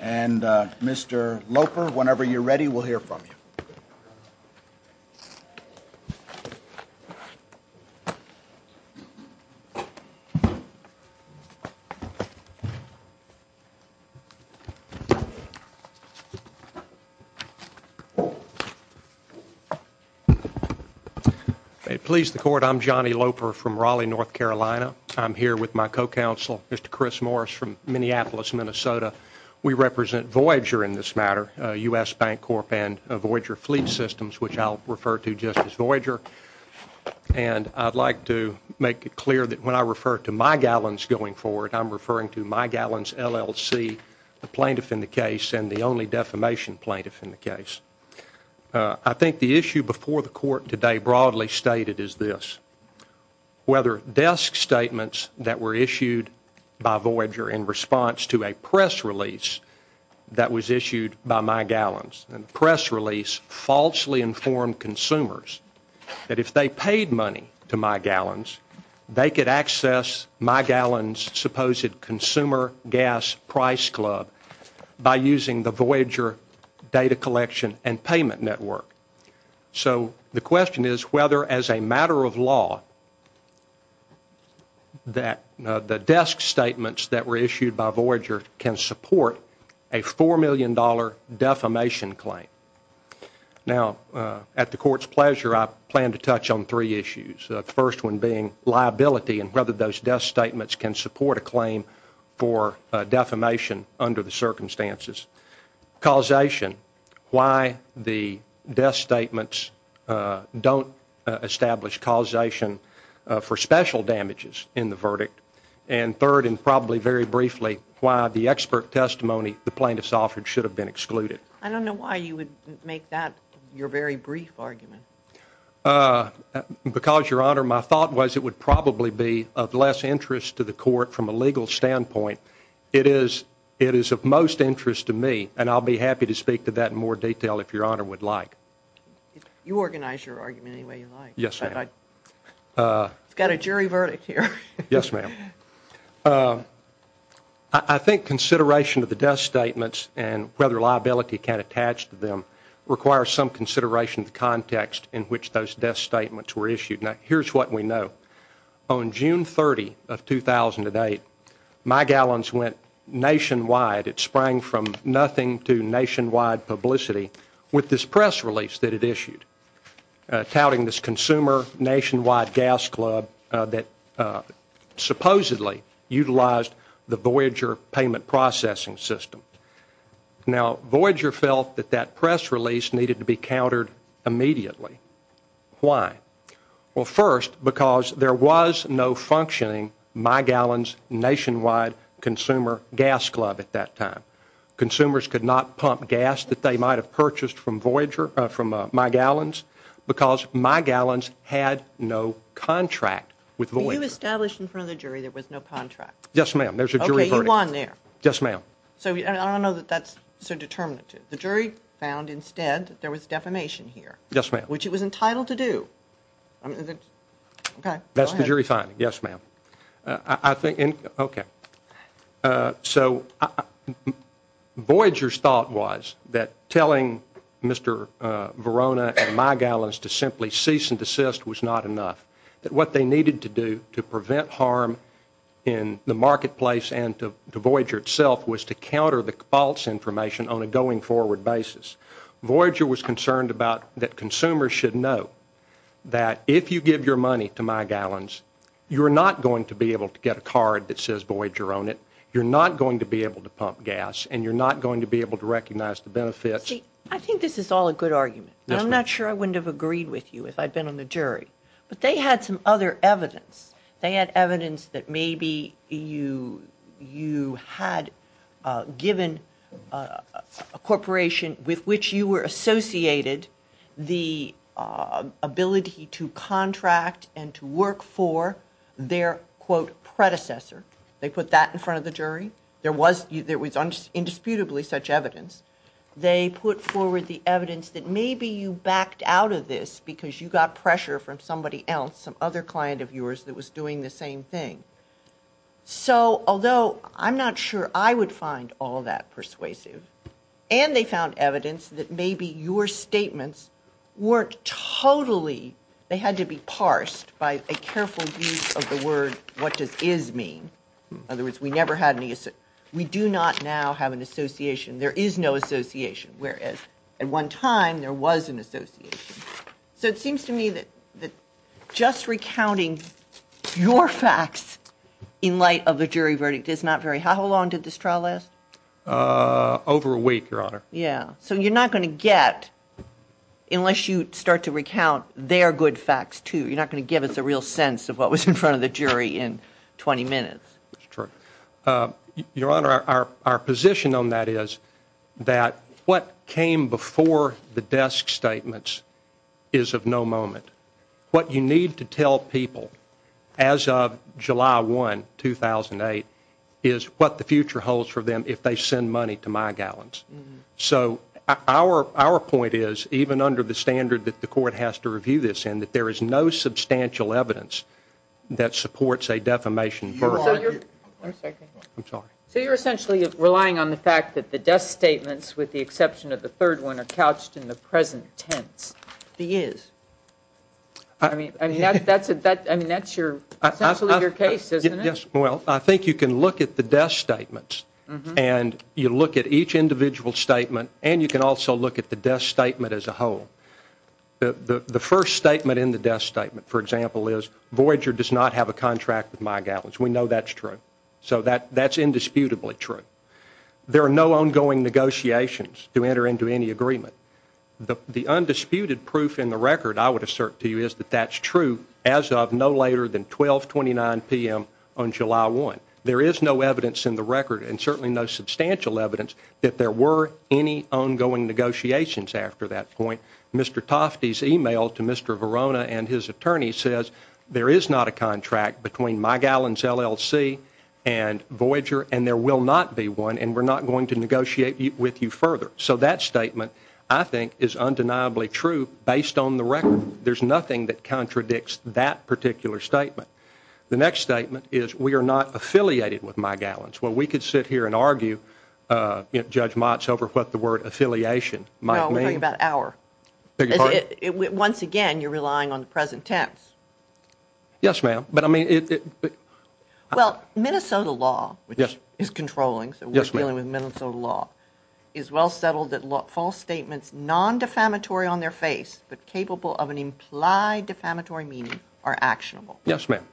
and Mr. Loper, whenever you're ready, we'll hear from you. Please the court, I'm Johnny Loper from Raleigh, North Carolina. I'm here with my co-counsel, Mr. Chris Morris from Minneapolis, Minnesota. We represent Voyager in this matter, U.S. Bancorp and Voyager Fleet Systems, which I'll refer to just as Voyager. And I'd like to make it clear that when I refer to Mygallons going forward, I'm referring to Mygallons LLC, the plaintiff in the case and the only defamation plaintiff in the case. I think the issue before the court today broadly stated is this. Whether desk statements that were issued by Voyager in response to a press release that was issued by Mygallons, and press release falsely informed consumers that if they paid money to Mygallons, they could access Mygallons' supposed consumer gas price club by using the Voyager data collection and payment network. So the question is whether, as a matter of law, that the desk statements that were issued by Voyager can support a $4 million defamation claim. Now, at the court's pleasure, I plan to touch on three issues. The first one being liability and whether those desk statements can support a claim for defamation under the circumstances. Causation, why the desk statements don't establish causation for special damages in the verdict. And third, and probably very briefly, why the expert testimony the plaintiffs offered should have been excluded. I don't know why you would make that your very brief argument. Because, Your Honor, my thought was it would probably be of less interest to the court from a legal standpoint. It is of most interest to me, and I'll be happy to speak to that in more detail if Your Honor would like. You organize your argument any way you like. Yes, ma'am. It's got a jury verdict here. Yes, ma'am. I think consideration of the desk statements and whether liability can attach to them requires some consideration of the context in which those desk statements were issued. Now, here's what we know. On June 30 of 2008, my gallons went nationwide. It sprang from nothing to nationwide publicity with this press release that it issued, touting this consumer nationwide gas club that supposedly utilized the Voyager payment processing system. Now, Voyager felt that that press release needed to be countered immediately. Why? Well, first, because there was no functioning my gallons nationwide consumer gas club at that time. Consumers could not pump gas that they might have purchased from Voyager, from my gallons, because my gallons had no contract with Voyager. Were you established in front of the jury there was no contract? Yes, ma'am. There's a jury verdict. Okay, you won there. Yes, ma'am. I don't know that that's so determinative. The jury found instead that there was defamation here. Yes, ma'am. Which it was entitled to do. That's the jury finding. Yes, ma'am. Okay. So Voyager's thought was that telling Mr. Verona and my gallons to simply cease and desist was not enough, that what they needed to do to prevent harm in the marketplace and to Voyager itself was to counter the false information on a going forward basis. Voyager was concerned about that consumers should know that if you give your money to my gallons, you're not going to be able to get a card that says Voyager own it, you're not going to be able to pump gas, and you're not going to be able to recognize the benefits. See, I think this is all a good argument. Yes, ma'am. And I'm not sure I wouldn't have agreed with you if I'd been on the jury. But they had some other evidence. They had evidence that maybe you had given a corporation with which you were associated the ability to contract and to work for their, quote, predecessor. They put that in front of the jury. There was indisputably such evidence. They put forward the evidence that maybe you backed out of this because you got pressure from somebody else, some other client of yours that was doing the same thing. So although I'm not sure I would find all that persuasive, and they found evidence that maybe your statements weren't totally, they had to be parsed by a careful use of the word what does is mean. In other words, we do not now have an association. There is no association. Whereas at one time there was an association. So it seems to me that just recounting your facts in light of a jury verdict is not very, how long did this trial last? Over a week, Your Honor. Yeah. So you're not going to get, unless you start to recount their good facts too, you're not going to give us a real sense of what was in front of the jury in 20 minutes. That's true. Your Honor, our position on that is that what came before the desk statements is of no moment. What you need to tell people as of July 1, 2008, is what the future holds for them if they send money to my gallons. So our point is, even under the standard that the court has to review this in, that there is no substantial evidence that supports a defamation verdict. One second. I'm sorry. So you're essentially relying on the fact that the desk statements, with the exception of the third one, are couched in the present tense. The is. I mean, that's essentially your case, isn't it? Yes. Well, I think you can look at the desk statements, and you look at each individual statement, and you can also look at the desk statement as a whole. The first statement in the desk statement, for example, is, Voyager does not have a contract with my gallons. We know that's true. So that's indisputably true. There are no ongoing negotiations to enter into any agreement. The undisputed proof in the record, I would assert to you, is that that's true as of no later than 1229 p.m. on July 1. There is no evidence in the record, and certainly no substantial evidence, that there were any ongoing negotiations after that point. Mr. Tofte's e-mail to Mr. Verona and his attorney says there is not a contract between my gallons LLC and Voyager, and there will not be one, and we're not going to negotiate with you further. So that statement, I think, is undeniably true based on the record. There's nothing that contradicts that particular statement. The next statement is we are not affiliated with my gallons. Well, we could sit here and argue, Judge Motz, over what the word affiliation might mean. No, we're talking about our. Once again, you're relying on the present tense. Yes, ma'am. Well, Minnesota law, which is controlling, so we're dealing with Minnesota law, is well settled that false statements non-defamatory on their face but capable of an implied defamatory meaning are actionable. Yes, ma'am.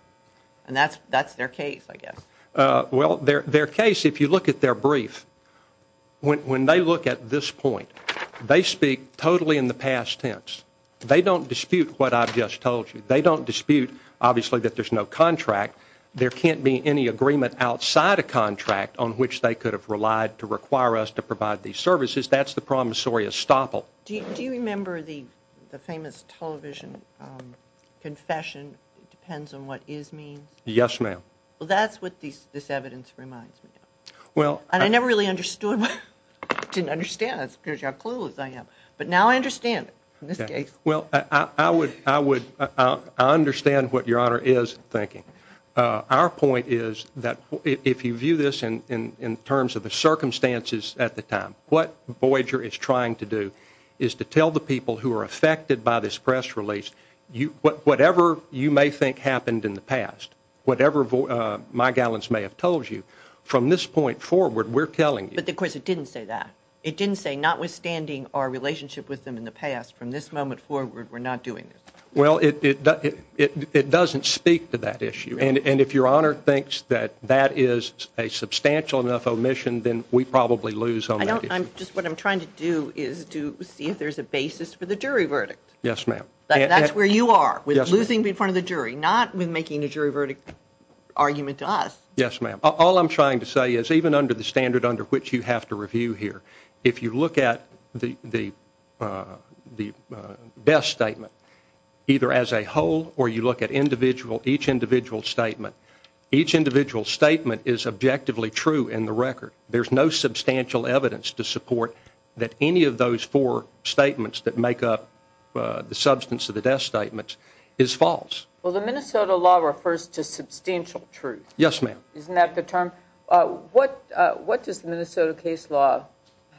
And that's their case, I guess. Well, their case, if you look at their brief, when they look at this point, they speak totally in the past tense. They don't dispute what I've just told you. They don't dispute, obviously, that there's no contract. There can't be any agreement outside a contract on which they could have relied to require us to provide these services. That's the promissory estoppel. Do you remember the famous television confession, depends on what is means? Yes, ma'am. Well, that's what this evidence reminds me of. And I never really understood. I didn't understand it because you're as clueless as I am. But now I understand it in this case. Well, I understand what Your Honor is thinking. Our point is that if you view this in terms of the circumstances at the time, what Voyager is trying to do is to tell the people who are affected by this press release, whatever you may think happened in the past, whatever my gallons may have told you, from this point forward, we're telling you. But, of course, it didn't say that. It didn't say, notwithstanding our relationship with them in the past, from this moment forward, we're not doing this. Well, it doesn't speak to that issue. And if Your Honor thinks that that is a substantial enough omission, then we probably lose on that issue. Just what I'm trying to do is to see if there's a basis for the jury verdict. Yes, ma'am. That's where you are, with losing in front of the jury, not with making a jury verdict argument to us. Yes, ma'am. All I'm trying to say is even under the standard under which you have to review here, if you look at the death statement either as a whole or you look at each individual statement, each individual statement is objectively true in the record. There's no substantial evidence to support that any of those four statements that make up the substance of the death statement is false. Well, the Minnesota law refers to substantial truth. Yes, ma'am. Isn't that the term? What does the Minnesota case law,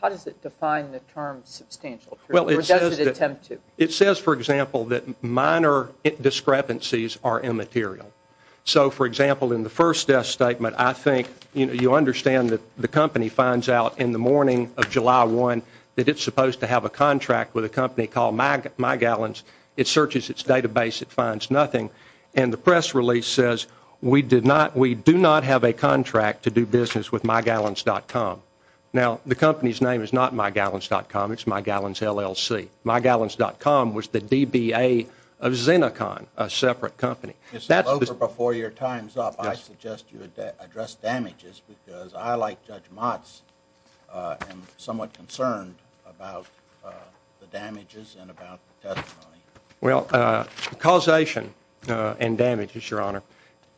how does it define the term substantial truth or does it attempt to? It says, for example, that minor discrepancies are immaterial. So, for example, in the first death statement, I think you understand that the company finds out in the morning of July 1 that it's supposed to have a contract with a company called MyGallons. It searches its database. It finds nothing. And the press release says we do not have a contract to do business with MyGallons.com. Now, the company's name is not MyGallons.com. It's MyGallons, LLC. MyGallons.com was the DBA of Zeneca, a separate company. Mr. Loper, before your time's up, I suggest you address damages because I, like Judge Motz, am somewhat concerned about the damages and about the testimony. Well, causation and damages, Your Honor,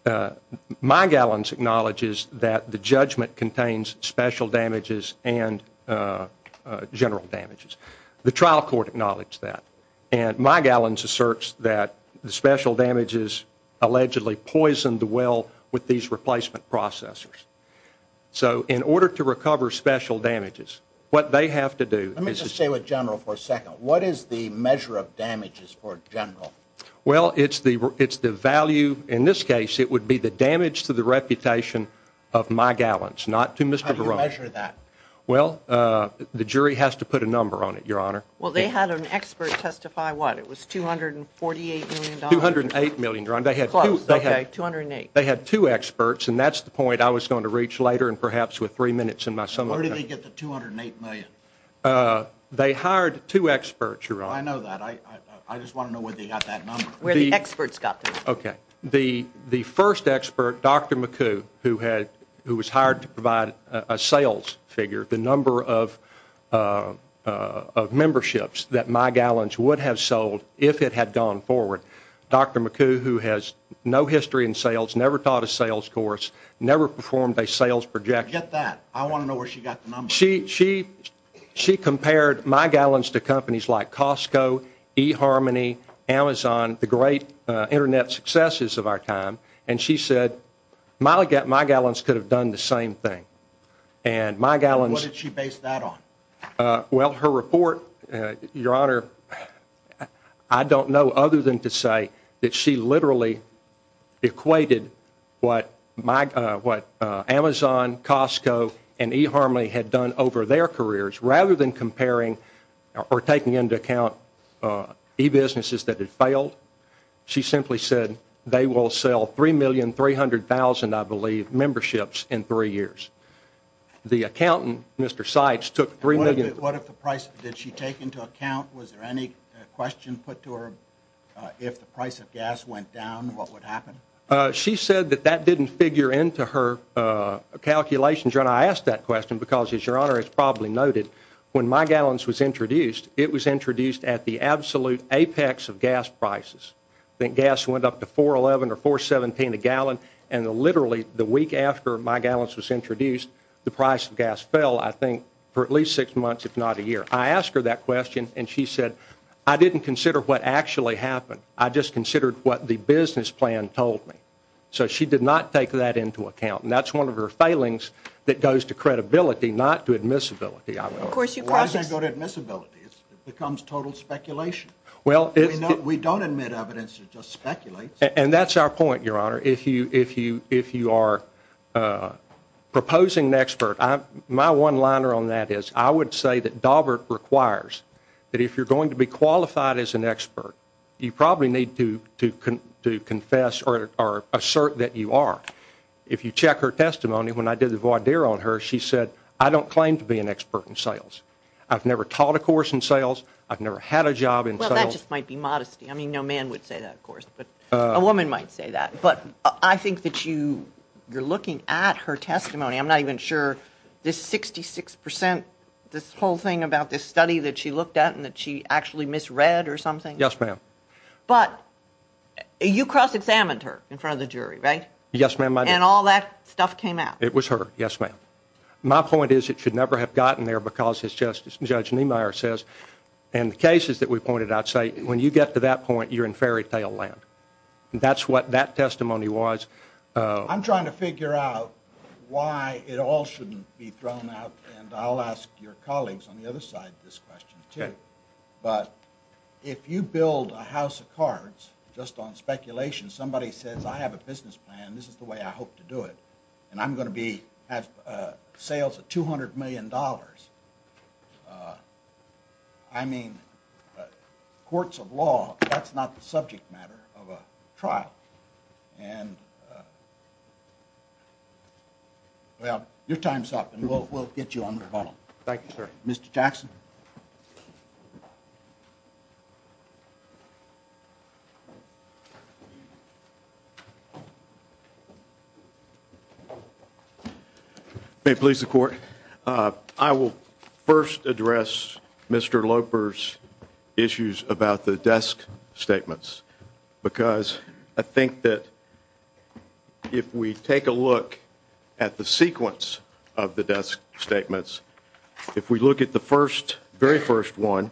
MyGallons acknowledges that the judgment contains special damages and general damages. The trial court acknowledged that. And MyGallons asserts that the special damages allegedly poisoned the well with these replacement processors. So, in order to recover special damages, what they have to do is- Let me just stay with general for a second. What is the measure of damages for general? Well, it's the value. In this case, it would be the damage to the reputation of MyGallons, not to Mr. Barone. How do you measure that? Well, the jury has to put a number on it, Your Honor. Well, they had an expert testify what? It was $248 million. $208 million, Your Honor. Close. Okay, $208. They had two experts, and that's the point I was going to reach later and perhaps with three minutes in my summary. Where did they get the $208 million? They hired two experts, Your Honor. I know that. I just want to know where they got that number. Where the experts got that number. Okay. The first expert, Dr. McCoo, who was hired to provide a sales figure, the number of memberships that MyGallons would have sold if it had gone forward. Dr. McCoo, who has no history in sales, never taught a sales course, never performed a sales projection. Get that. I want to know where she got the number. She compared MyGallons to companies like Costco, eHarmony, Amazon, the great Internet successes of our time, and she said MyGallons could have done the same thing. What did she base that on? Well, her report, Your Honor, I don't know other than to say that she literally equated what Amazon, Costco, and eHarmony had done over their careers. Rather than comparing or taking into account e-businesses that had failed, she simply said they will sell 3,300,000, I believe, memberships in three years. The accountant, Mr. Seitz, took 3 million. What if the price, did she take into account, was there any question put to her, if the price of gas went down, what would happen? She said that that didn't figure into her calculations. Your Honor, I ask that question because, as Your Honor has probably noted, when MyGallons was introduced, it was introduced at the absolute apex of gas prices. I think gas went up to $4.11 or $4.17 a gallon, and literally the week after MyGallons was introduced, the price of gas fell, I think, for at least six months, if not a year. I asked her that question, and she said, I didn't consider what actually happened. I just considered what the business plan told me. So she did not take that into account, and that's one of her failings that goes to credibility, not to admissibility. Why does that go to admissibility? It becomes total speculation. We don't admit evidence, it just speculates. And that's our point, Your Honor. If you are proposing an expert, my one-liner on that is, I would say that Daubert requires that if you're going to be qualified as an expert, you probably need to confess or assert that you are. If you check her testimony, when I did the voir dire on her, she said, I don't claim to be an expert in sales. I've never taught a course in sales. I've never had a job in sales. Well, that just might be modesty. I mean, no man would say that, of course, but a woman might say that. But I think that you're looking at her testimony. I'm not even sure this 66 percent, this whole thing about this study that she looked at and that she actually misread or something. Yes, ma'am. But you cross-examined her in front of the jury, right? Yes, ma'am, I did. And all that stuff came out. It was her. Yes, ma'am. My point is it should never have gotten there because, as Judge Niemeyer says, and the cases that we pointed out say when you get to that point, you're in fairytale land. That's what that testimony was. I'm trying to figure out why it all shouldn't be thrown out, and I'll ask your colleagues on the other side this question, too. But if you build a house of cards just on speculation, somebody says, I have a business plan, this is the way I hope to do it, and I'm going to have sales of $200 million, I mean, courts of law, that's not the subject matter of a trial. And, well, your time's up, and we'll get you on the phone. Thank you, sir. Mr. Jackson. May it please the Court, I will first address Mr. Loper's issues about the desk statements because I think that if we take a look at the sequence of the desk statements, if we look at the first, very first one,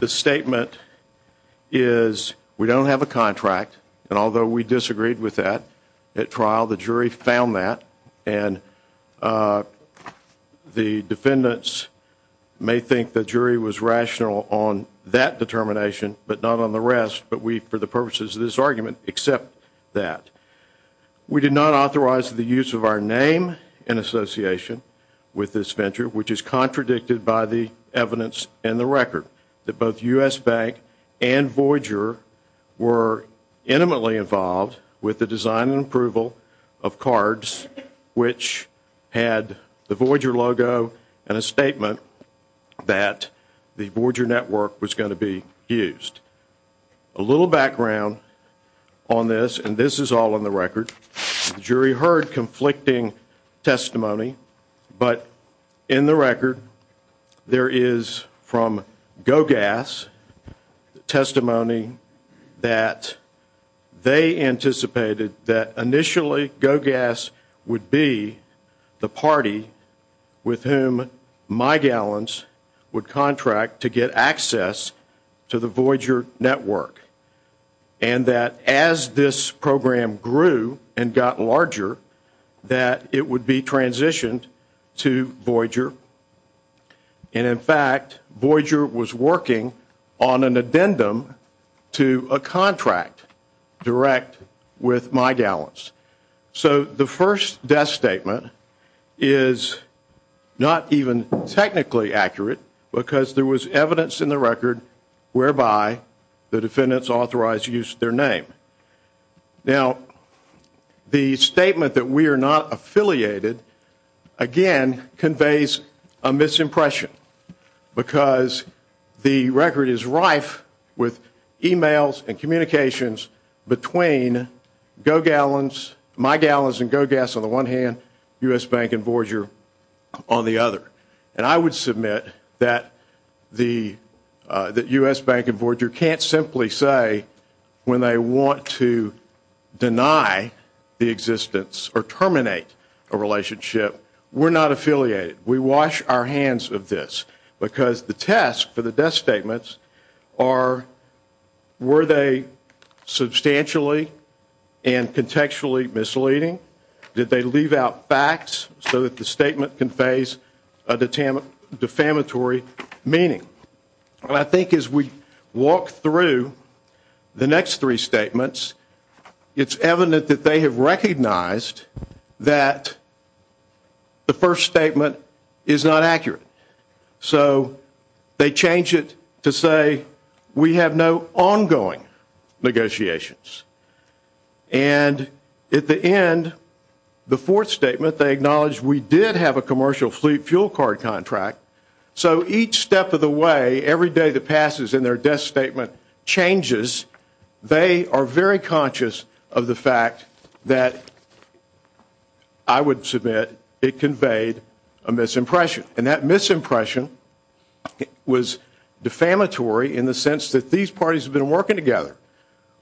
the statement is we don't have a contract, and although we disagreed with that at trial, the jury found that, and the defendants may think the jury was rational on that determination but not on the rest, but we, for the purposes of this argument, accept that. We did not authorize the use of our name in association with this venture, which is contradicted by the evidence in the record, that both U.S. Bank and Voyager were intimately involved with the design and approval of cards which had the Voyager logo and a statement that the Voyager network was going to be used. A little background on this, and this is all in the record. The jury heard conflicting testimony, but in the record, there is from Go Gas testimony that they anticipated that initially Go Gas would be the party with whom my gallons would contract to get access to the Voyager network, and that as this program grew and got larger, that it would be transitioned to Voyager, and in fact, Voyager was working on an addendum to a contract direct with my gallons. So the first desk statement is not even technically accurate because there was evidence in the record whereby the defendants authorized use of their name. Now, the statement that we are not affiliated, again, conveys a misimpression because the record is rife with e-mails and communications between Go Gallons, my gallons and Go Gas on the one hand, U.S. Bank and Voyager on the other, and I would submit that U.S. Bank and Voyager can't simply say when they want to deny the existence or terminate a relationship, we're not affiliated. We wash our hands of this because the test for the desk statements are were they substantially and contextually misleading? Did they leave out facts so that the statement conveys a defamatory meaning? And I think as we walk through the next three statements, it's evident that they have recognized that the first statement is not accurate. So they change it to say we have no ongoing negotiations. And at the end, the fourth statement, they acknowledge we did have a commercial fleet fuel card contract. So each step of the way, every day that passes in their desk statement changes, they are very conscious of the fact that, I would submit, it conveyed a misimpression. And that misimpression was defamatory in the sense that these parties have been working together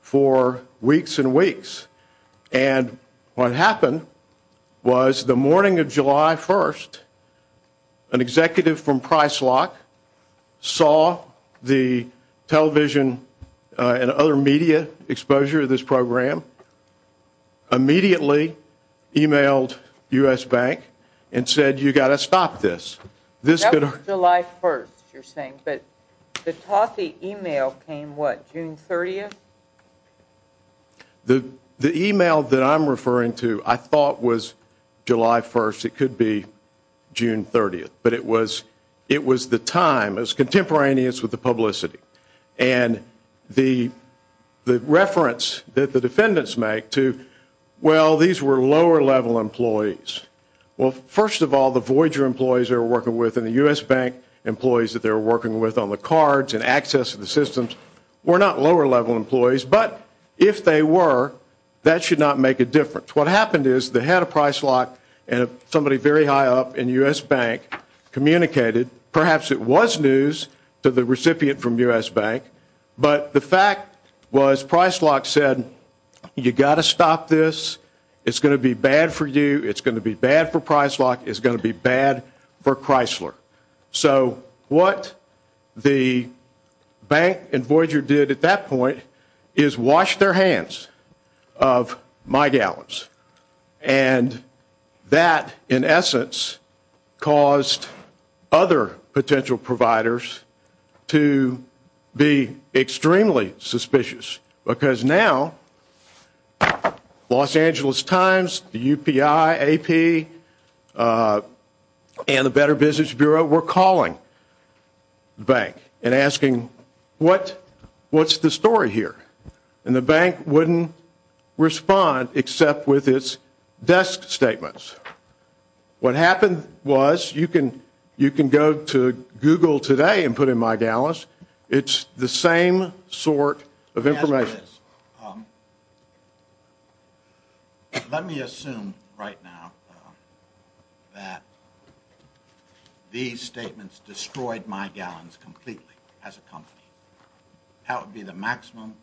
for weeks and weeks. And what happened was the morning of July 1st, an executive from Pricelock saw the television and other media exposure of this program, immediately emailed U.S. Bank and said, you've got to stop this. That was July 1st, you're saying, but the Tosse email came what, June 30th? The email that I'm referring to I thought was July 1st, it could be June 30th, but it was the time, it was contemporaneous with the publicity. And the reference that the defendants make to, well, these were lower level employees. Well, first of all, the Voyager employees they were working with and the U.S. Bank employees that they were working with on the cards and access to the systems were not lower level employees, but if they were, that should not make a difference. What happened is they had a Pricelock and somebody very high up in U.S. Bank communicated, perhaps it was news to the recipient from U.S. Bank, but the fact was Pricelock said, you've got to stop this, it's going to be bad for you, it's going to be bad for Pricelock, it's going to be bad for Chrysler. So what the Bank and Voyager did at that point is wash their hands of Mike Allen's. And that, in essence, caused other potential providers to be extremely suspicious, because now Los Angeles Times, the UPI, AP, and the Better Business Bureau were calling the Bank and asking what's the story here? And the Bank wouldn't respond except with its desk statements. What happened was, you can go to Google today and put in Mike Allen's, it's the same sort of information. Yes, it is. Let me assume right now that these statements destroyed Mike Allen's completely as a company. That would be the maximum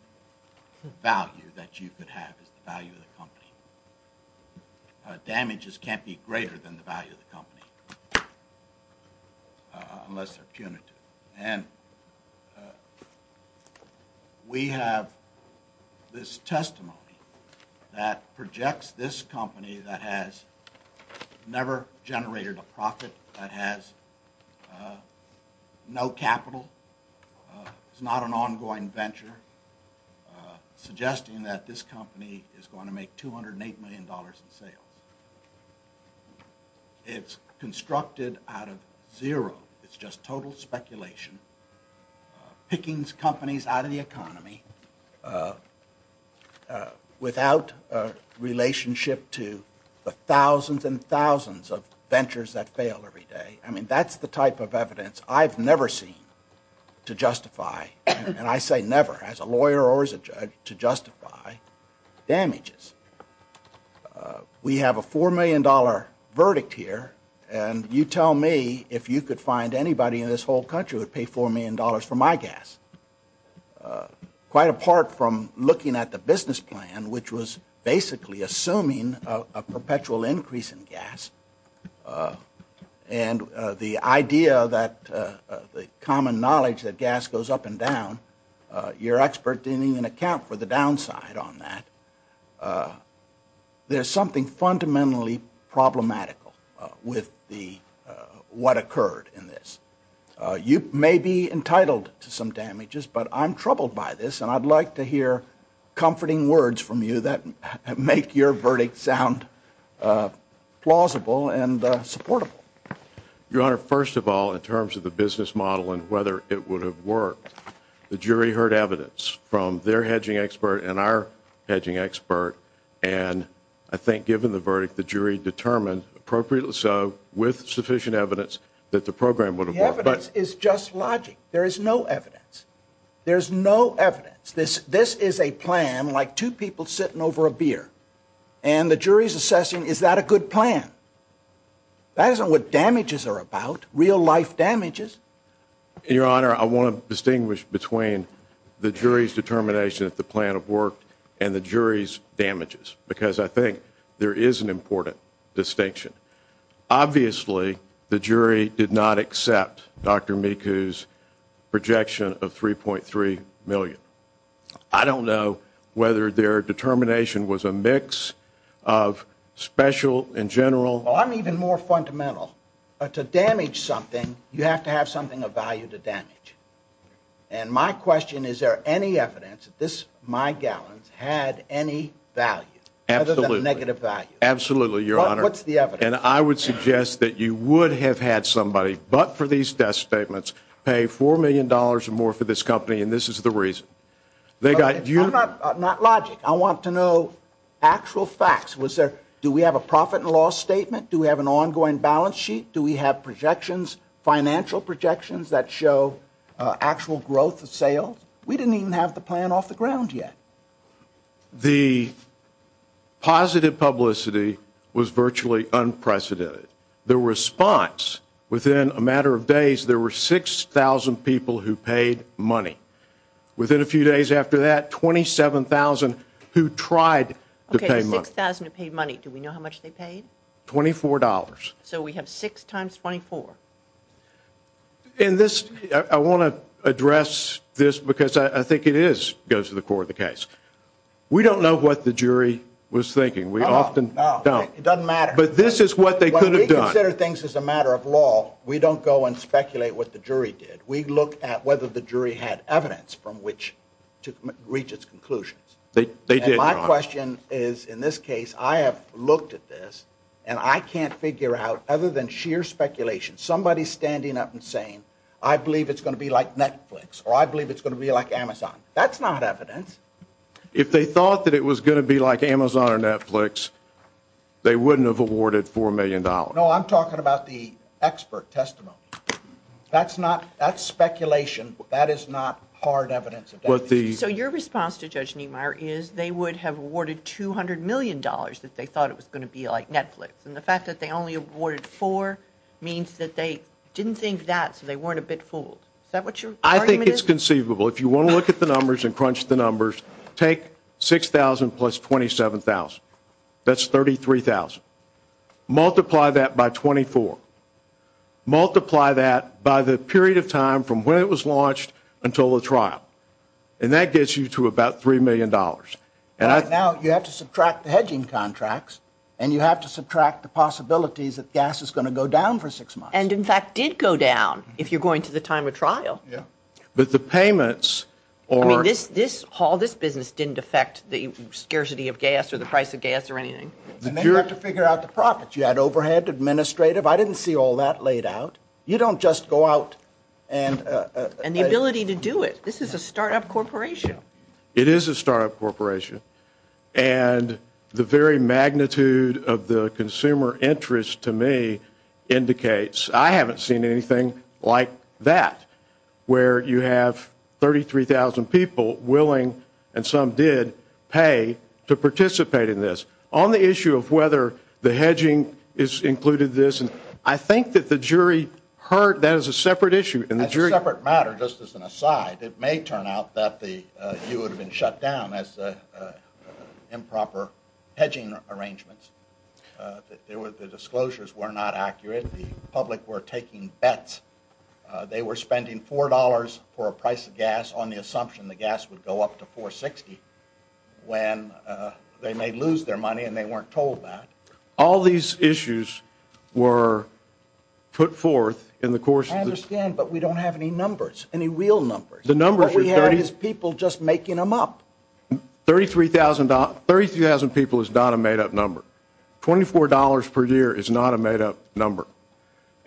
value that you could have as the value of the company. Damages can't be greater than the value of the company unless they're punitive. And we have this testimony that projects this company that has never generated a profit, that has no capital, it's not an ongoing venture, suggesting that this company is going to make $208 million in sales. It's constructed out of zero. It's just total speculation, picking companies out of the economy without a relationship to the thousands and thousands of ventures that fail every day. I mean, that's the type of evidence I've never seen to justify, and I say never, as a lawyer or as a judge, to justify damages. We have a $4 million verdict here, and you tell me if you could find anybody in this whole country who would pay $4 million for my gas. Quite apart from looking at the business plan, which was basically assuming a perpetual increase in gas, and the idea that the common knowledge that gas goes up and down, your expert didn't even account for the downside on that, there's something fundamentally problematical with what occurred in this. You may be entitled to some damages, but I'm troubled by this, and I'd like to hear comforting words from you that make your verdict sound plausible and supportable. Your Honor, first of all, in terms of the business model and whether it would have worked, the jury heard evidence from their hedging expert and our hedging expert, and I think, given the verdict, the jury determined, appropriately so, with sufficient evidence, that the program would have worked. The evidence is just logic. There is no evidence. There's no evidence. This is a plan like two people sitting over a beer, and the jury's assessing, is that a good plan? That isn't what damages are about, real-life damages. Your Honor, I want to distinguish between the jury's determination that the plan have worked and the jury's damages, because I think there is an important distinction. Obviously, the jury did not accept Dr. Miku's projection of $3.3 million. I don't know whether their determination was a mix of special and general. Well, I'm even more fundamental. To damage something, you have to have something of value to damage. And my question, is there any evidence that my gallons had any value? Absolutely. Other than a negative value. Absolutely, Your Honor. What's the evidence? And I would suggest that you would have had somebody, but for these death statements, pay $4 million or more for this company, and this is the reason. I'm not logic. I want to know actual facts. Do we have a profit and loss statement? Do we have an ongoing balance sheet? Do we have projections, financial projections, that show actual growth of sales? We didn't even have the plan off the ground yet. The positive publicity was virtually unprecedented. The response, within a matter of days, there were 6,000 people who paid money. Within a few days after that, 27,000 who tried to pay money. Okay, 6,000 who paid money. Do we know how much they paid? $24. So we have 6 times 24. I want to address this because I think it goes to the core of the case. We don't know what the jury was thinking. We often don't. It doesn't matter. But this is what they could have done. When we consider things as a matter of law, we don't go and speculate what the jury did. We look at whether the jury had evidence from which to reach its conclusions. They did, Your Honor. And my question is, in this case, I have looked at this, and I can't figure out, other than sheer speculation, somebody standing up and saying, I believe it's going to be like Netflix, or I believe it's going to be like Amazon. That's not evidence. If they thought that it was going to be like Amazon or Netflix, they wouldn't have awarded $4 million. No, I'm talking about the expert testimony. That's speculation. That is not hard evidence. So your response to Judge Niemeyer is they would have awarded $200 million that they thought it was going to be like Netflix. And the fact that they only awarded $4 million means that they didn't think that, so they weren't a bit fooled. Is that what your argument is? I think it's conceivable. If you want to look at the numbers and crunch the numbers, take $6,000 plus $27,000. That's $33,000. Multiply that by 24. Multiply that by the period of time from when it was launched until the trial. And that gets you to about $3 million. Right now, you have to subtract the hedging contracts, and you have to subtract the possibilities that gas is going to go down for six months. And, in fact, did go down if you're going to the time of trial. Yeah. But the payments are... I mean, this haul, this business didn't affect the scarcity of gas or the price of gas or anything. And then you have to figure out the profits. You had overhead, administrative. I didn't see all that laid out. You don't just go out and... And the ability to do it. This is a startup corporation. It is a startup corporation. And the very magnitude of the consumer interest to me indicates I haven't seen anything like that, where you have 33,000 people willing, and some did, pay to participate in this. On the issue of whether the hedging is included in this, I think that the jury heard that as a separate issue. That's a separate matter, just as an aside. It may turn out that you would have been shut down as improper hedging arrangements. The disclosures were not accurate. The public were taking bets. They were spending $4 for a price of gas on the assumption the gas would go up to $4.60 when they may lose their money and they weren't told that. All these issues were put forth in the course of this... I understand, but we don't have any numbers, any real numbers. The number we have is people just making them up. 33,000 people is not a made-up number. $24 per year is not a made-up number.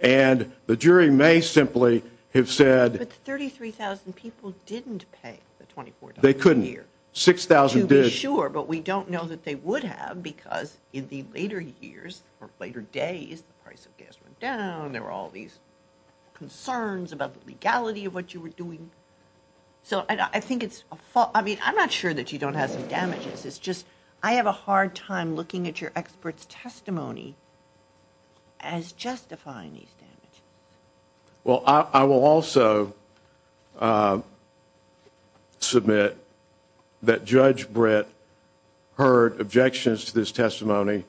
And the jury may simply have said... But 33,000 people didn't pay the $24 per year. They couldn't. 6,000 did. To be sure, but we don't know that they would have because in the later years or later days, the price of gas went down, there were all these concerns about the legality of what you were doing. So I think it's a fault. I mean, I'm not sure that you don't have some damages. It's just I have a hard time looking at your expert's testimony as justifying these damages. Well, I will also submit that Judge Britt heard objections to this testimony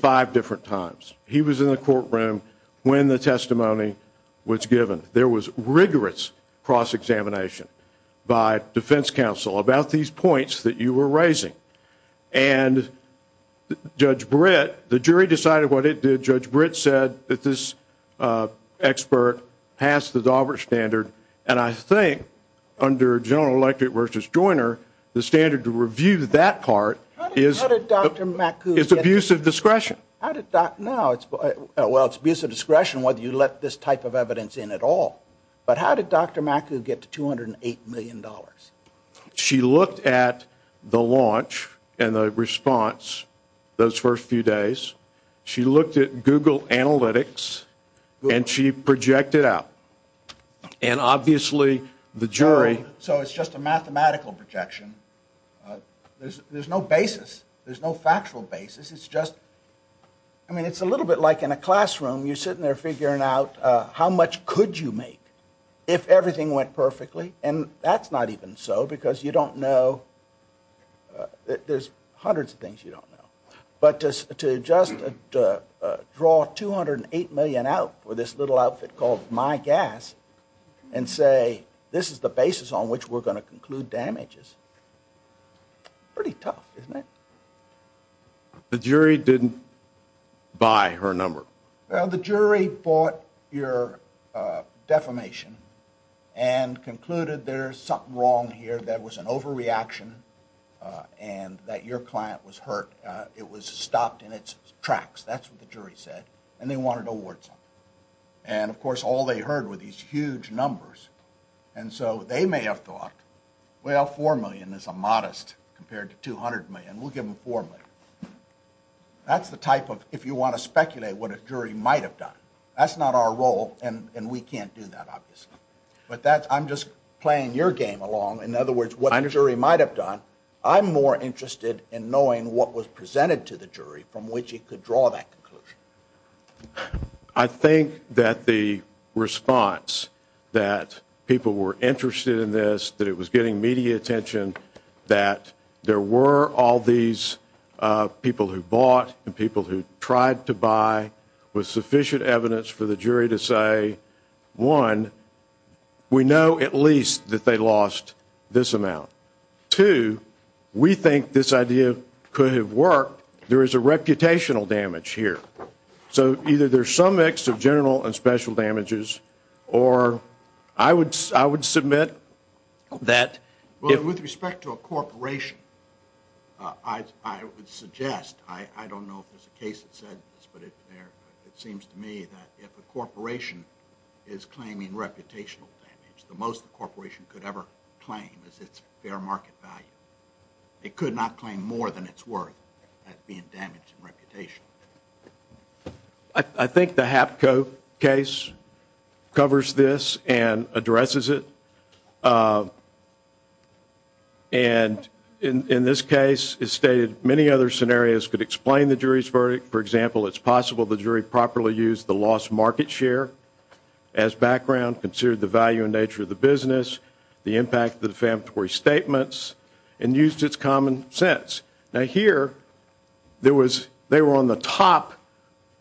five different times. He was in the courtroom when the testimony was given. There was rigorous cross-examination by defense counsel about these points that you were raising. And Judge Britt, the jury decided what it did. Judge Britt said that this expert passed the Daubert standard, and I think under General Electric v. Joyner, the standard to review that part is abusive discretion. Well, it's abusive discretion whether you let this type of evidence in at all. But how did Dr. Macu get to $208 million? She looked at the launch and the response those first few days. She looked at Google Analytics, and she projected out. So it's just a mathematical projection. There's no basis. There's no factual basis. I mean, it's a little bit like in a classroom. You're sitting there figuring out how much could you make if everything went perfectly, and that's not even so because you don't know. There's hundreds of things you don't know. But to just draw $208 million out for this little outfit called My Gas and say this is the basis on which we're going to conclude damages, pretty tough, isn't it? The jury didn't buy her number. Well, the jury bought your defamation and concluded there's something wrong here. There was an overreaction and that your client was hurt. It was stopped in its tracks. That's what the jury said, and they wanted awards. And, of course, all they heard were these huge numbers. And so they may have thought, well, $4 million is a modest compared to $200 million. We'll give them $4 million. That's the type of, if you want to speculate, what a jury might have done. That's not our role, and we can't do that, obviously. But I'm just playing your game along. In other words, what the jury might have done, I'm more interested in knowing what was presented to the jury from which it could draw that conclusion. I think that the response that people were interested in this, that it was getting media attention, that there were all these people who bought and people who tried to buy with sufficient evidence for the jury to say, one, we know at least that they lost this amount. Two, we think this idea could have worked. There is a reputational damage here. So either there's some mix of general and special damages, or I would submit that with respect to a corporation, I would suggest, I don't know if there's a case that said this, but it seems to me that if a corporation is claiming reputational damage, the most the corporation could ever claim is its fair market value. It could not claim more than it's worth at being damaged in reputation. I think the Hapco case covers this and addresses it. And in this case, it stated many other scenarios could explain the jury's verdict. For example, it's possible the jury properly used the lost market share as background, considered the value and nature of the business, the impact of the defamatory statements, and used its common sense. Now here, they were on the top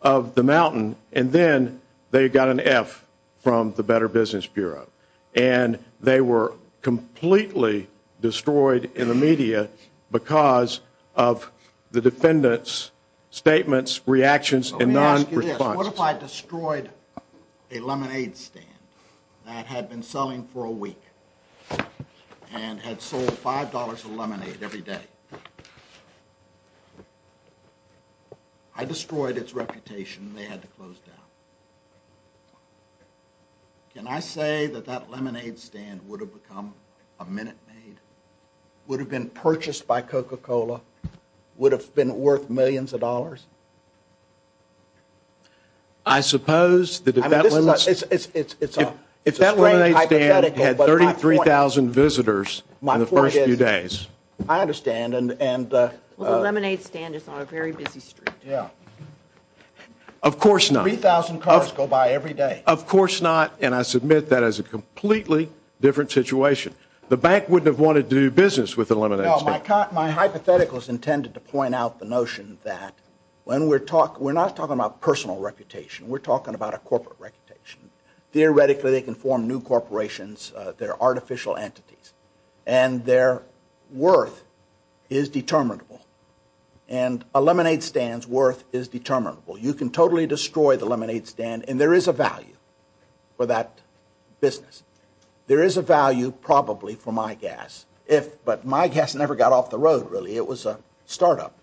of the mountain, and then they got an F from the Better Business Bureau. And they were completely destroyed in the media because of the defendant's statements, reactions, and non-response. Let me ask you this. What if I destroyed a lemonade stand that had been selling for a week and had sold $5 of lemonade every day? I destroyed its reputation, and they had to close down. Can I say that that lemonade stand would have become a Minute Maid, would have been purchased by Coca-Cola, would have been worth millions of dollars? I suppose that if that lemonade stand had 33,000 visitors in the first few days. I understand. Well, the lemonade stand is on a very busy street. Of course not. Three thousand cars go by every day. Of course not, and I submit that is a completely different situation. My hypothetical is intended to point out the notion that when we're talking, we're not talking about personal reputation. We're talking about a corporate reputation. Theoretically, they can form new corporations. They're artificial entities, and their worth is determinable. And a lemonade stand's worth is determinable. You can totally destroy the lemonade stand, and there is a value for that business. There is a value probably for my gas. But my gas never got off the road, really. It was a startup.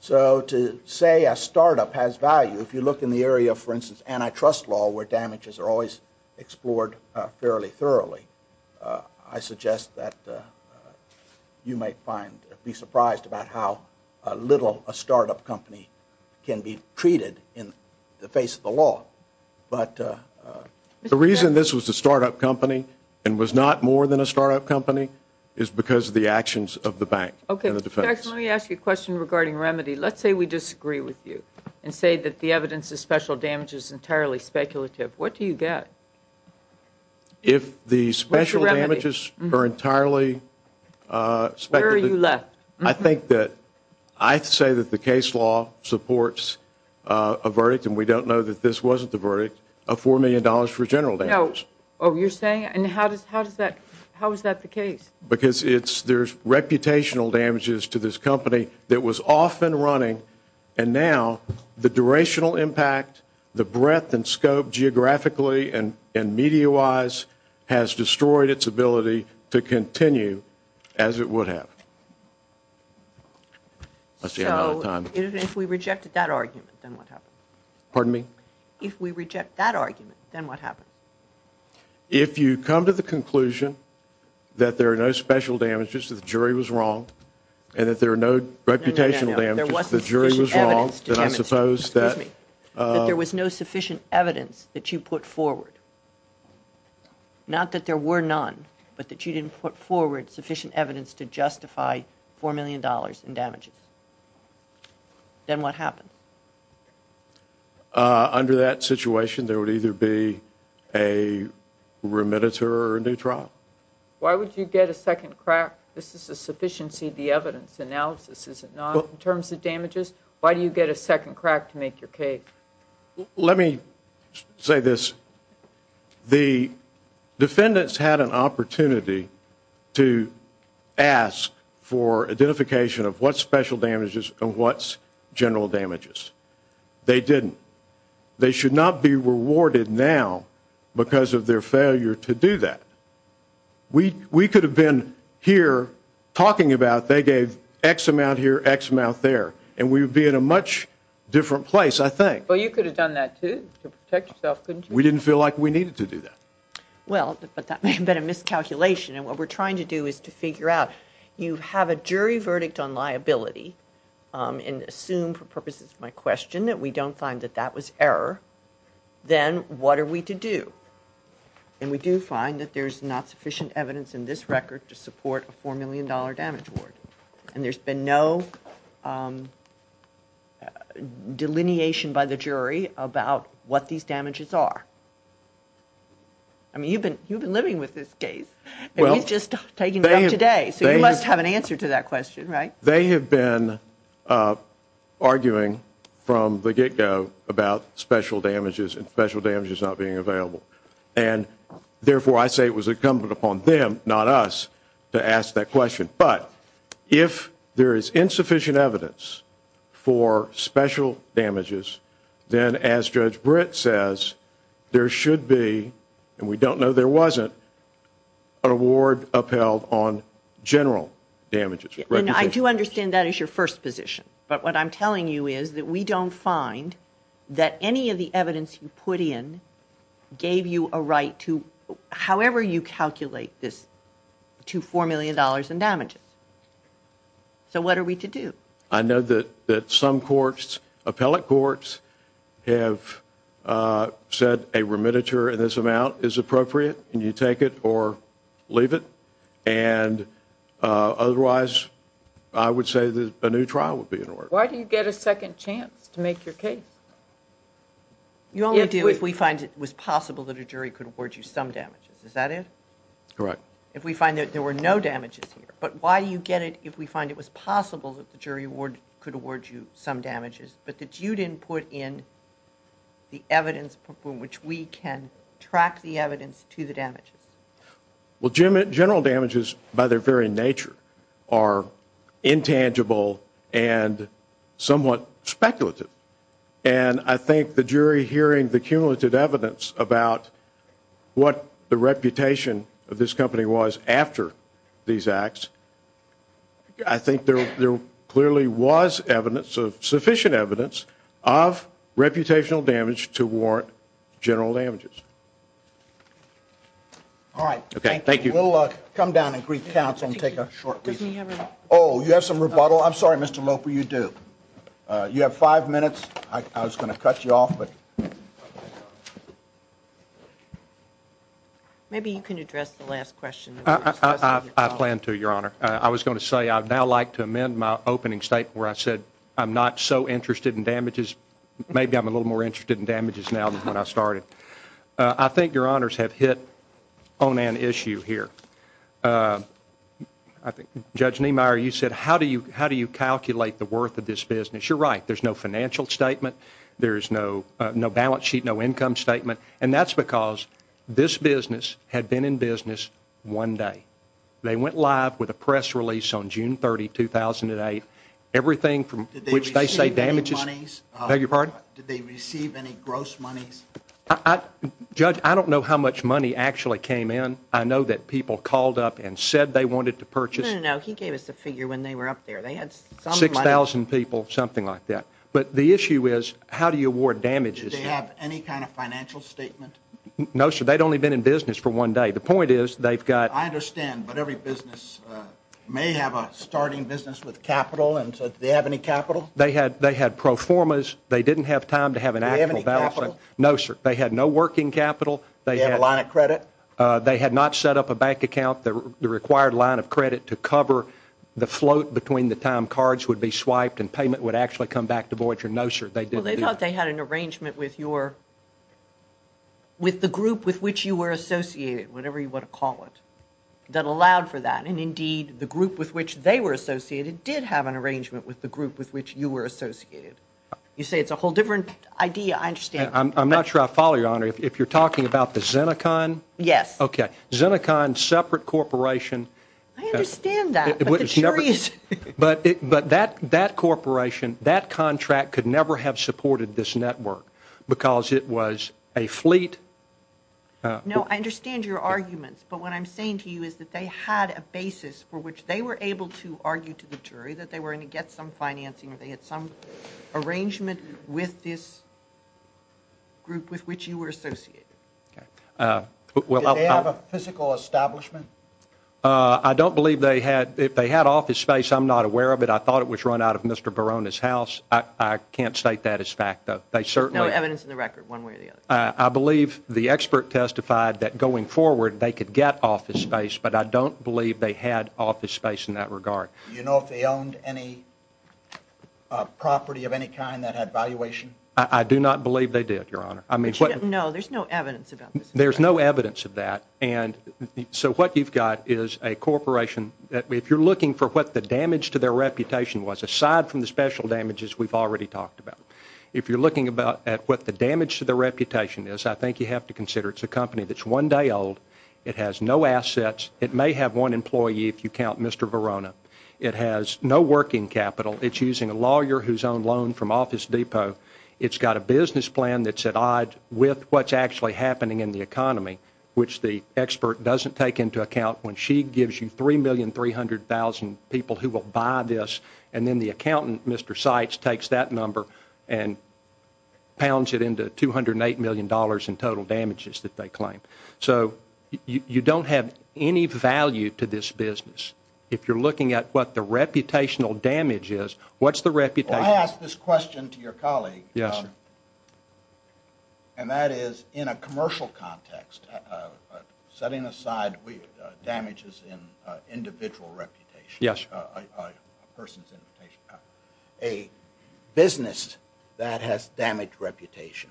So to say a startup has value, if you look in the area of, for instance, antitrust law, where damages are always explored fairly thoroughly, I suggest that you might be surprised about how little a startup company can be treated in the face of the law. The reason this was a startup company and was not more than a startup company is because of the actions of the bank and the defense. Let me ask you a question regarding remedy. Let's say we disagree with you and say that the evidence of special damage is entirely speculative. What do you get? If the special damages are entirely speculative. Where are you left? I think that I say that the case law supports a verdict, and we don't know that this wasn't the verdict, of $4 million for general damages. Oh, you're saying? And how is that the case? Because there's reputational damages to this company that was off and running, and now the durational impact, the breadth and scope geographically and media-wise has destroyed its ability to continue as it would have. So if we reject that argument, then what happens? Pardon me? If we reject that argument, then what happens? If you come to the conclusion that there are no special damages, that the jury was wrong, and that there are no reputational damages, that the jury was wrong, that there was no sufficient evidence that you put forward, not that there were none, but that you didn't put forward sufficient evidence to justify $4 million in damages, then what happens? Under that situation, there would either be a remediator or a new trial. Why would you get a second crack? This is a sufficiency of the evidence analysis, is it not, in terms of damages? Why do you get a second crack to make your case? Let me say this. The defendants had an opportunity to ask for identification of what's special damages and what's general damages. They didn't. They should not be rewarded now because of their failure to do that. We could have been here talking about they gave X amount here, X amount there, and we would be in a much different place, I think. But you could have done that, too, to protect yourself, couldn't you? We didn't feel like we needed to do that. Well, but that may have been a miscalculation. And what we're trying to do is to figure out you have a jury verdict on liability and assume for purposes of my question that we don't find that that was error, then what are we to do? And we do find that there's not sufficient evidence in this record to support a $4 million damage award. And there's been no delineation by the jury about what these damages are. I mean, you've been living with this case. It was just taken up today, so you must have an answer to that question, right? They have been arguing from the get-go about special damages and special damages not being available. And, therefore, I say it was incumbent upon them, not us, to ask that question. But if there is insufficient evidence for special damages, then, as Judge Britt says, there should be, and we don't know there wasn't, an award upheld on general damages. And I do understand that is your first position. But what I'm telling you is that we don't find that any of the evidence you put in gave you a right to, however you calculate this, to $4 million in damages. So what are we to do? I know that some courts, appellate courts, have said a remittiture in this amount is appropriate, and you take it or leave it. And, otherwise, I would say that a new trial would be in order. Why do you get a second chance to make your case? You only do if we find it was possible that a jury could award you some damages. Is that it? Correct. If we find that there were no damages here. But why do you get it if we find it was possible that the jury could award you some damages but that you didn't put in the evidence from which we can track the evidence to the damages? Well, general damages, by their very nature, are intangible and somewhat speculative. And I think the jury hearing the cumulative evidence about what the reputation of this company was after these acts, I think there clearly was evidence, sufficient evidence, of reputational damage to warrant general damages. All right. Thank you. We'll come down and greet the counsel and take a short recess. Oh, you have some rebuttal? I'm sorry, Mr. Loper, you do. You have five minutes. I was going to cut you off. Maybe you can address the last question. I plan to, Your Honor. I was going to say I'd now like to amend my opening statement where I said I'm not so interested in damages. Maybe I'm a little more interested in damages now than when I started. I think Your Honors have hit on an issue here. Judge Niemeyer, you said how do you calculate the worth of this business? You're right. There's no financial statement. There's no balance sheet, no income statement. And that's because this business had been in business one day. They went live with a press release on June 30, 2008. Everything from which they say damages. Did they receive any gross monies? Judge, I don't know how much money actually came in. I know that people called up and said they wanted to purchase. No, no, no. He gave us a figure when they were up there. They had some money. Six thousand people, something like that. But the issue is how do you award damages? Did they have any kind of financial statement? No, sir. They'd only been in business for one day. The point is they've got. I understand. But every business may have a starting business with capital. And so do they have any capital? They had pro formas. They didn't have time to have an actual balance sheet. Do they have any capital? No, sir. They had no working capital. Do they have a line of credit? They had not set up a bank account. The required line of credit to cover the float between the time cards would be swiped and payment would actually come back to Voyager. No, sir. Well, they thought they had an arrangement with the group with which you were associated, whatever you want to call it, that allowed for that. And, indeed, the group with which they were associated did have an arrangement with the group with which you were associated. You say it's a whole different idea. I understand. I'm not sure I follow you, Your Honor. I'm sorry. If you're talking about the Zenecon? Yes. Okay. Zenecon, separate corporation. I understand that. But the jury is. But that corporation, that contract could never have supported this network because it was a fleet. No, I understand your arguments. But what I'm saying to you is that they had a basis for which they were able to argue to the jury that they were going to get some financing or they had some arrangement with this group with which you were associated. Did they have a physical establishment? I don't believe they had. If they had office space, I'm not aware of it. I thought it was run out of Mr. Barona's house. I can't state that as fact, though. No evidence in the record, one way or the other. I believe the expert testified that going forward they could get office space, but I don't believe they had office space in that regard. Do you know if they owned any property of any kind that had valuation? I do not believe they did, Your Honor. No, there's no evidence about this. There's no evidence of that. And so what you've got is a corporation that if you're looking for what the damage to their reputation was, aside from the special damages we've already talked about, if you're looking at what the damage to their reputation is, I think you have to consider it's a company that's one day old, it has no assets, it may have one employee if you count Mr. Barona. It has no working capital. It's using a lawyer who's owned loan from Office Depot. It's got a business plan that's at odds with what's actually happening in the economy, which the expert doesn't take into account when she gives you 3,300,000 people who will buy this, and then the accountant, Mr. Seitz, takes that number and pounds it into $208 million in total damages that they claim. So you don't have any value to this business. If you're looking at what the reputational damage is, what's the reputation? Well, I ask this question to your colleague, and that is in a commercial context, setting aside damages in individual reputation, a person's reputation, a business that has damaged reputation,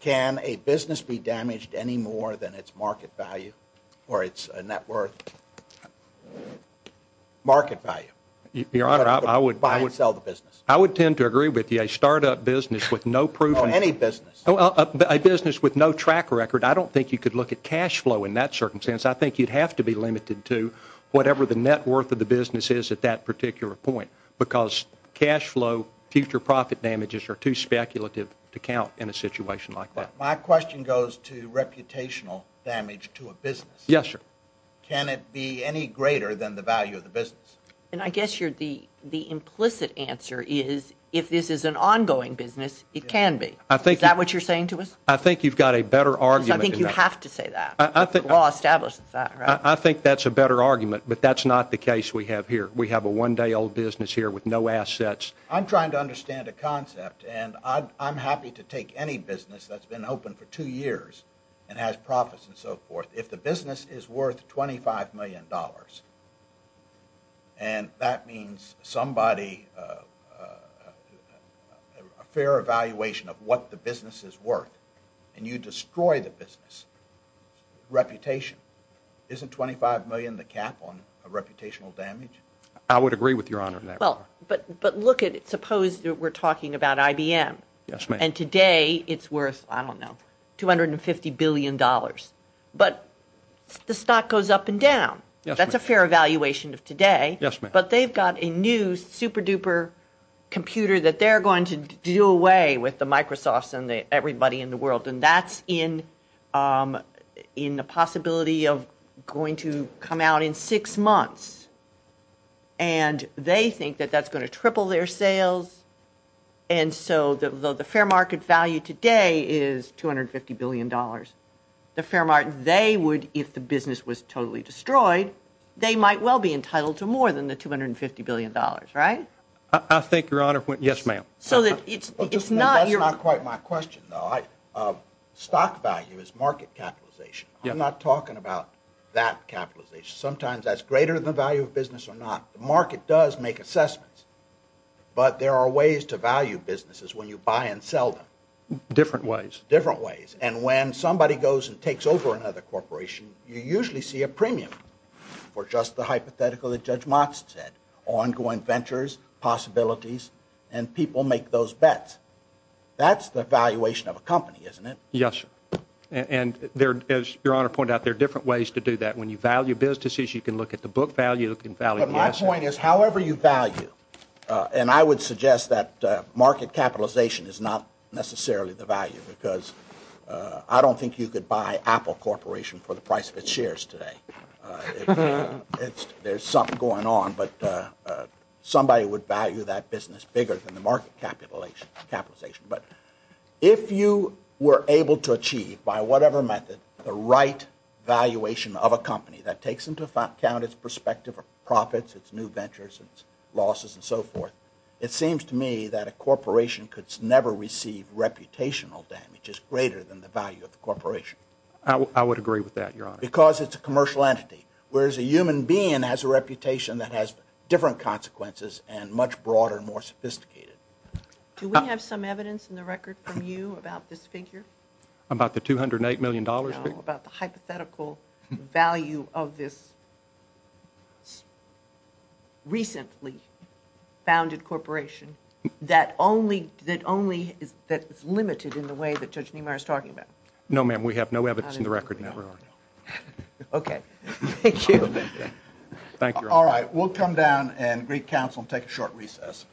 can a business be damaged any more than its market value or its net worth market value? Your Honor, I would tend to agree with you. A startup business with no proven business, a business with no track record, I don't think you could look at cash flow in that circumstance. I think you'd have to be limited to whatever the net worth of the business is at that particular point because cash flow, future profit damages are too speculative to count in a situation like that. My question goes to reputational damage to a business. Yes, sir. Can it be any greater than the value of the business? And I guess the implicit answer is if this is an ongoing business, it can be. Is that what you're saying to us? I think you've got a better argument. I think you have to say that. The law establishes that, right? I think that's a better argument, but that's not the case we have here. We have a one-day-old business here with no assets. I'm trying to understand a concept, and I'm happy to take any business that's been open for two years and has profits and so forth. If the business is worth $25 million, and that means a fair evaluation of what the business is worth, and you destroy the business reputation, isn't $25 million the cap on a reputational damage? I would agree with Your Honor in that regard. But look at it. Suppose we're talking about IBM. Yes, ma'am. And today it's worth, I don't know, $250 billion. But the stock goes up and down. That's a fair evaluation of today. Yes, ma'am. But they've got a new, super-duper computer that they're going to do away with the Microsofts and everybody in the world, and that's in the possibility of going to come out in six months. And they think that that's going to triple their sales, and so the fair market value today is $250 billion. They would, if the business was totally destroyed, they might well be entitled to more than the $250 billion, right? I think, Your Honor, yes, ma'am. That's not quite my question, though. Stock value is market capitalization. I'm not talking about that capitalization. Sometimes that's greater than the value of business or not. The market does make assessments, but there are ways to value businesses when you buy and sell them. Different ways. Different ways. And when somebody goes and takes over another corporation, you usually see a premium for just the hypothetical that Judge Motz said, ongoing ventures, possibilities, and people make those bets. That's the valuation of a company, isn't it? Yes, sir. And as Your Honor pointed out, there are different ways to do that. When you value businesses, you can look at the book value. But my point is, however you value, and I would suggest that market capitalization is not necessarily the value because I don't think you could buy Apple Corporation for the price of its shares today. There's something going on, but somebody would value that business bigger than the market capitalization. But if you were able to achieve, by whatever method, the right valuation of a company that takes into account its perspective of profits, its new ventures, its losses, and so forth, it seems to me that a corporation could never receive reputational damage that's greater than the value of the corporation. I would agree with that, Your Honor. Because it's a commercial entity, whereas a human being has a reputation that has different consequences and much broader and more sophisticated. Do we have some evidence in the record from you about this figure? About the $208 million figure? No, about the hypothetical value of this recently founded corporation that is limited in the way that Judge Niemeyer is talking about. No, ma'am, we have no evidence in the record in that regard. Okay. Thank you. Thank you, Your Honor. All right, we'll come down and greet counsel and take a short recess.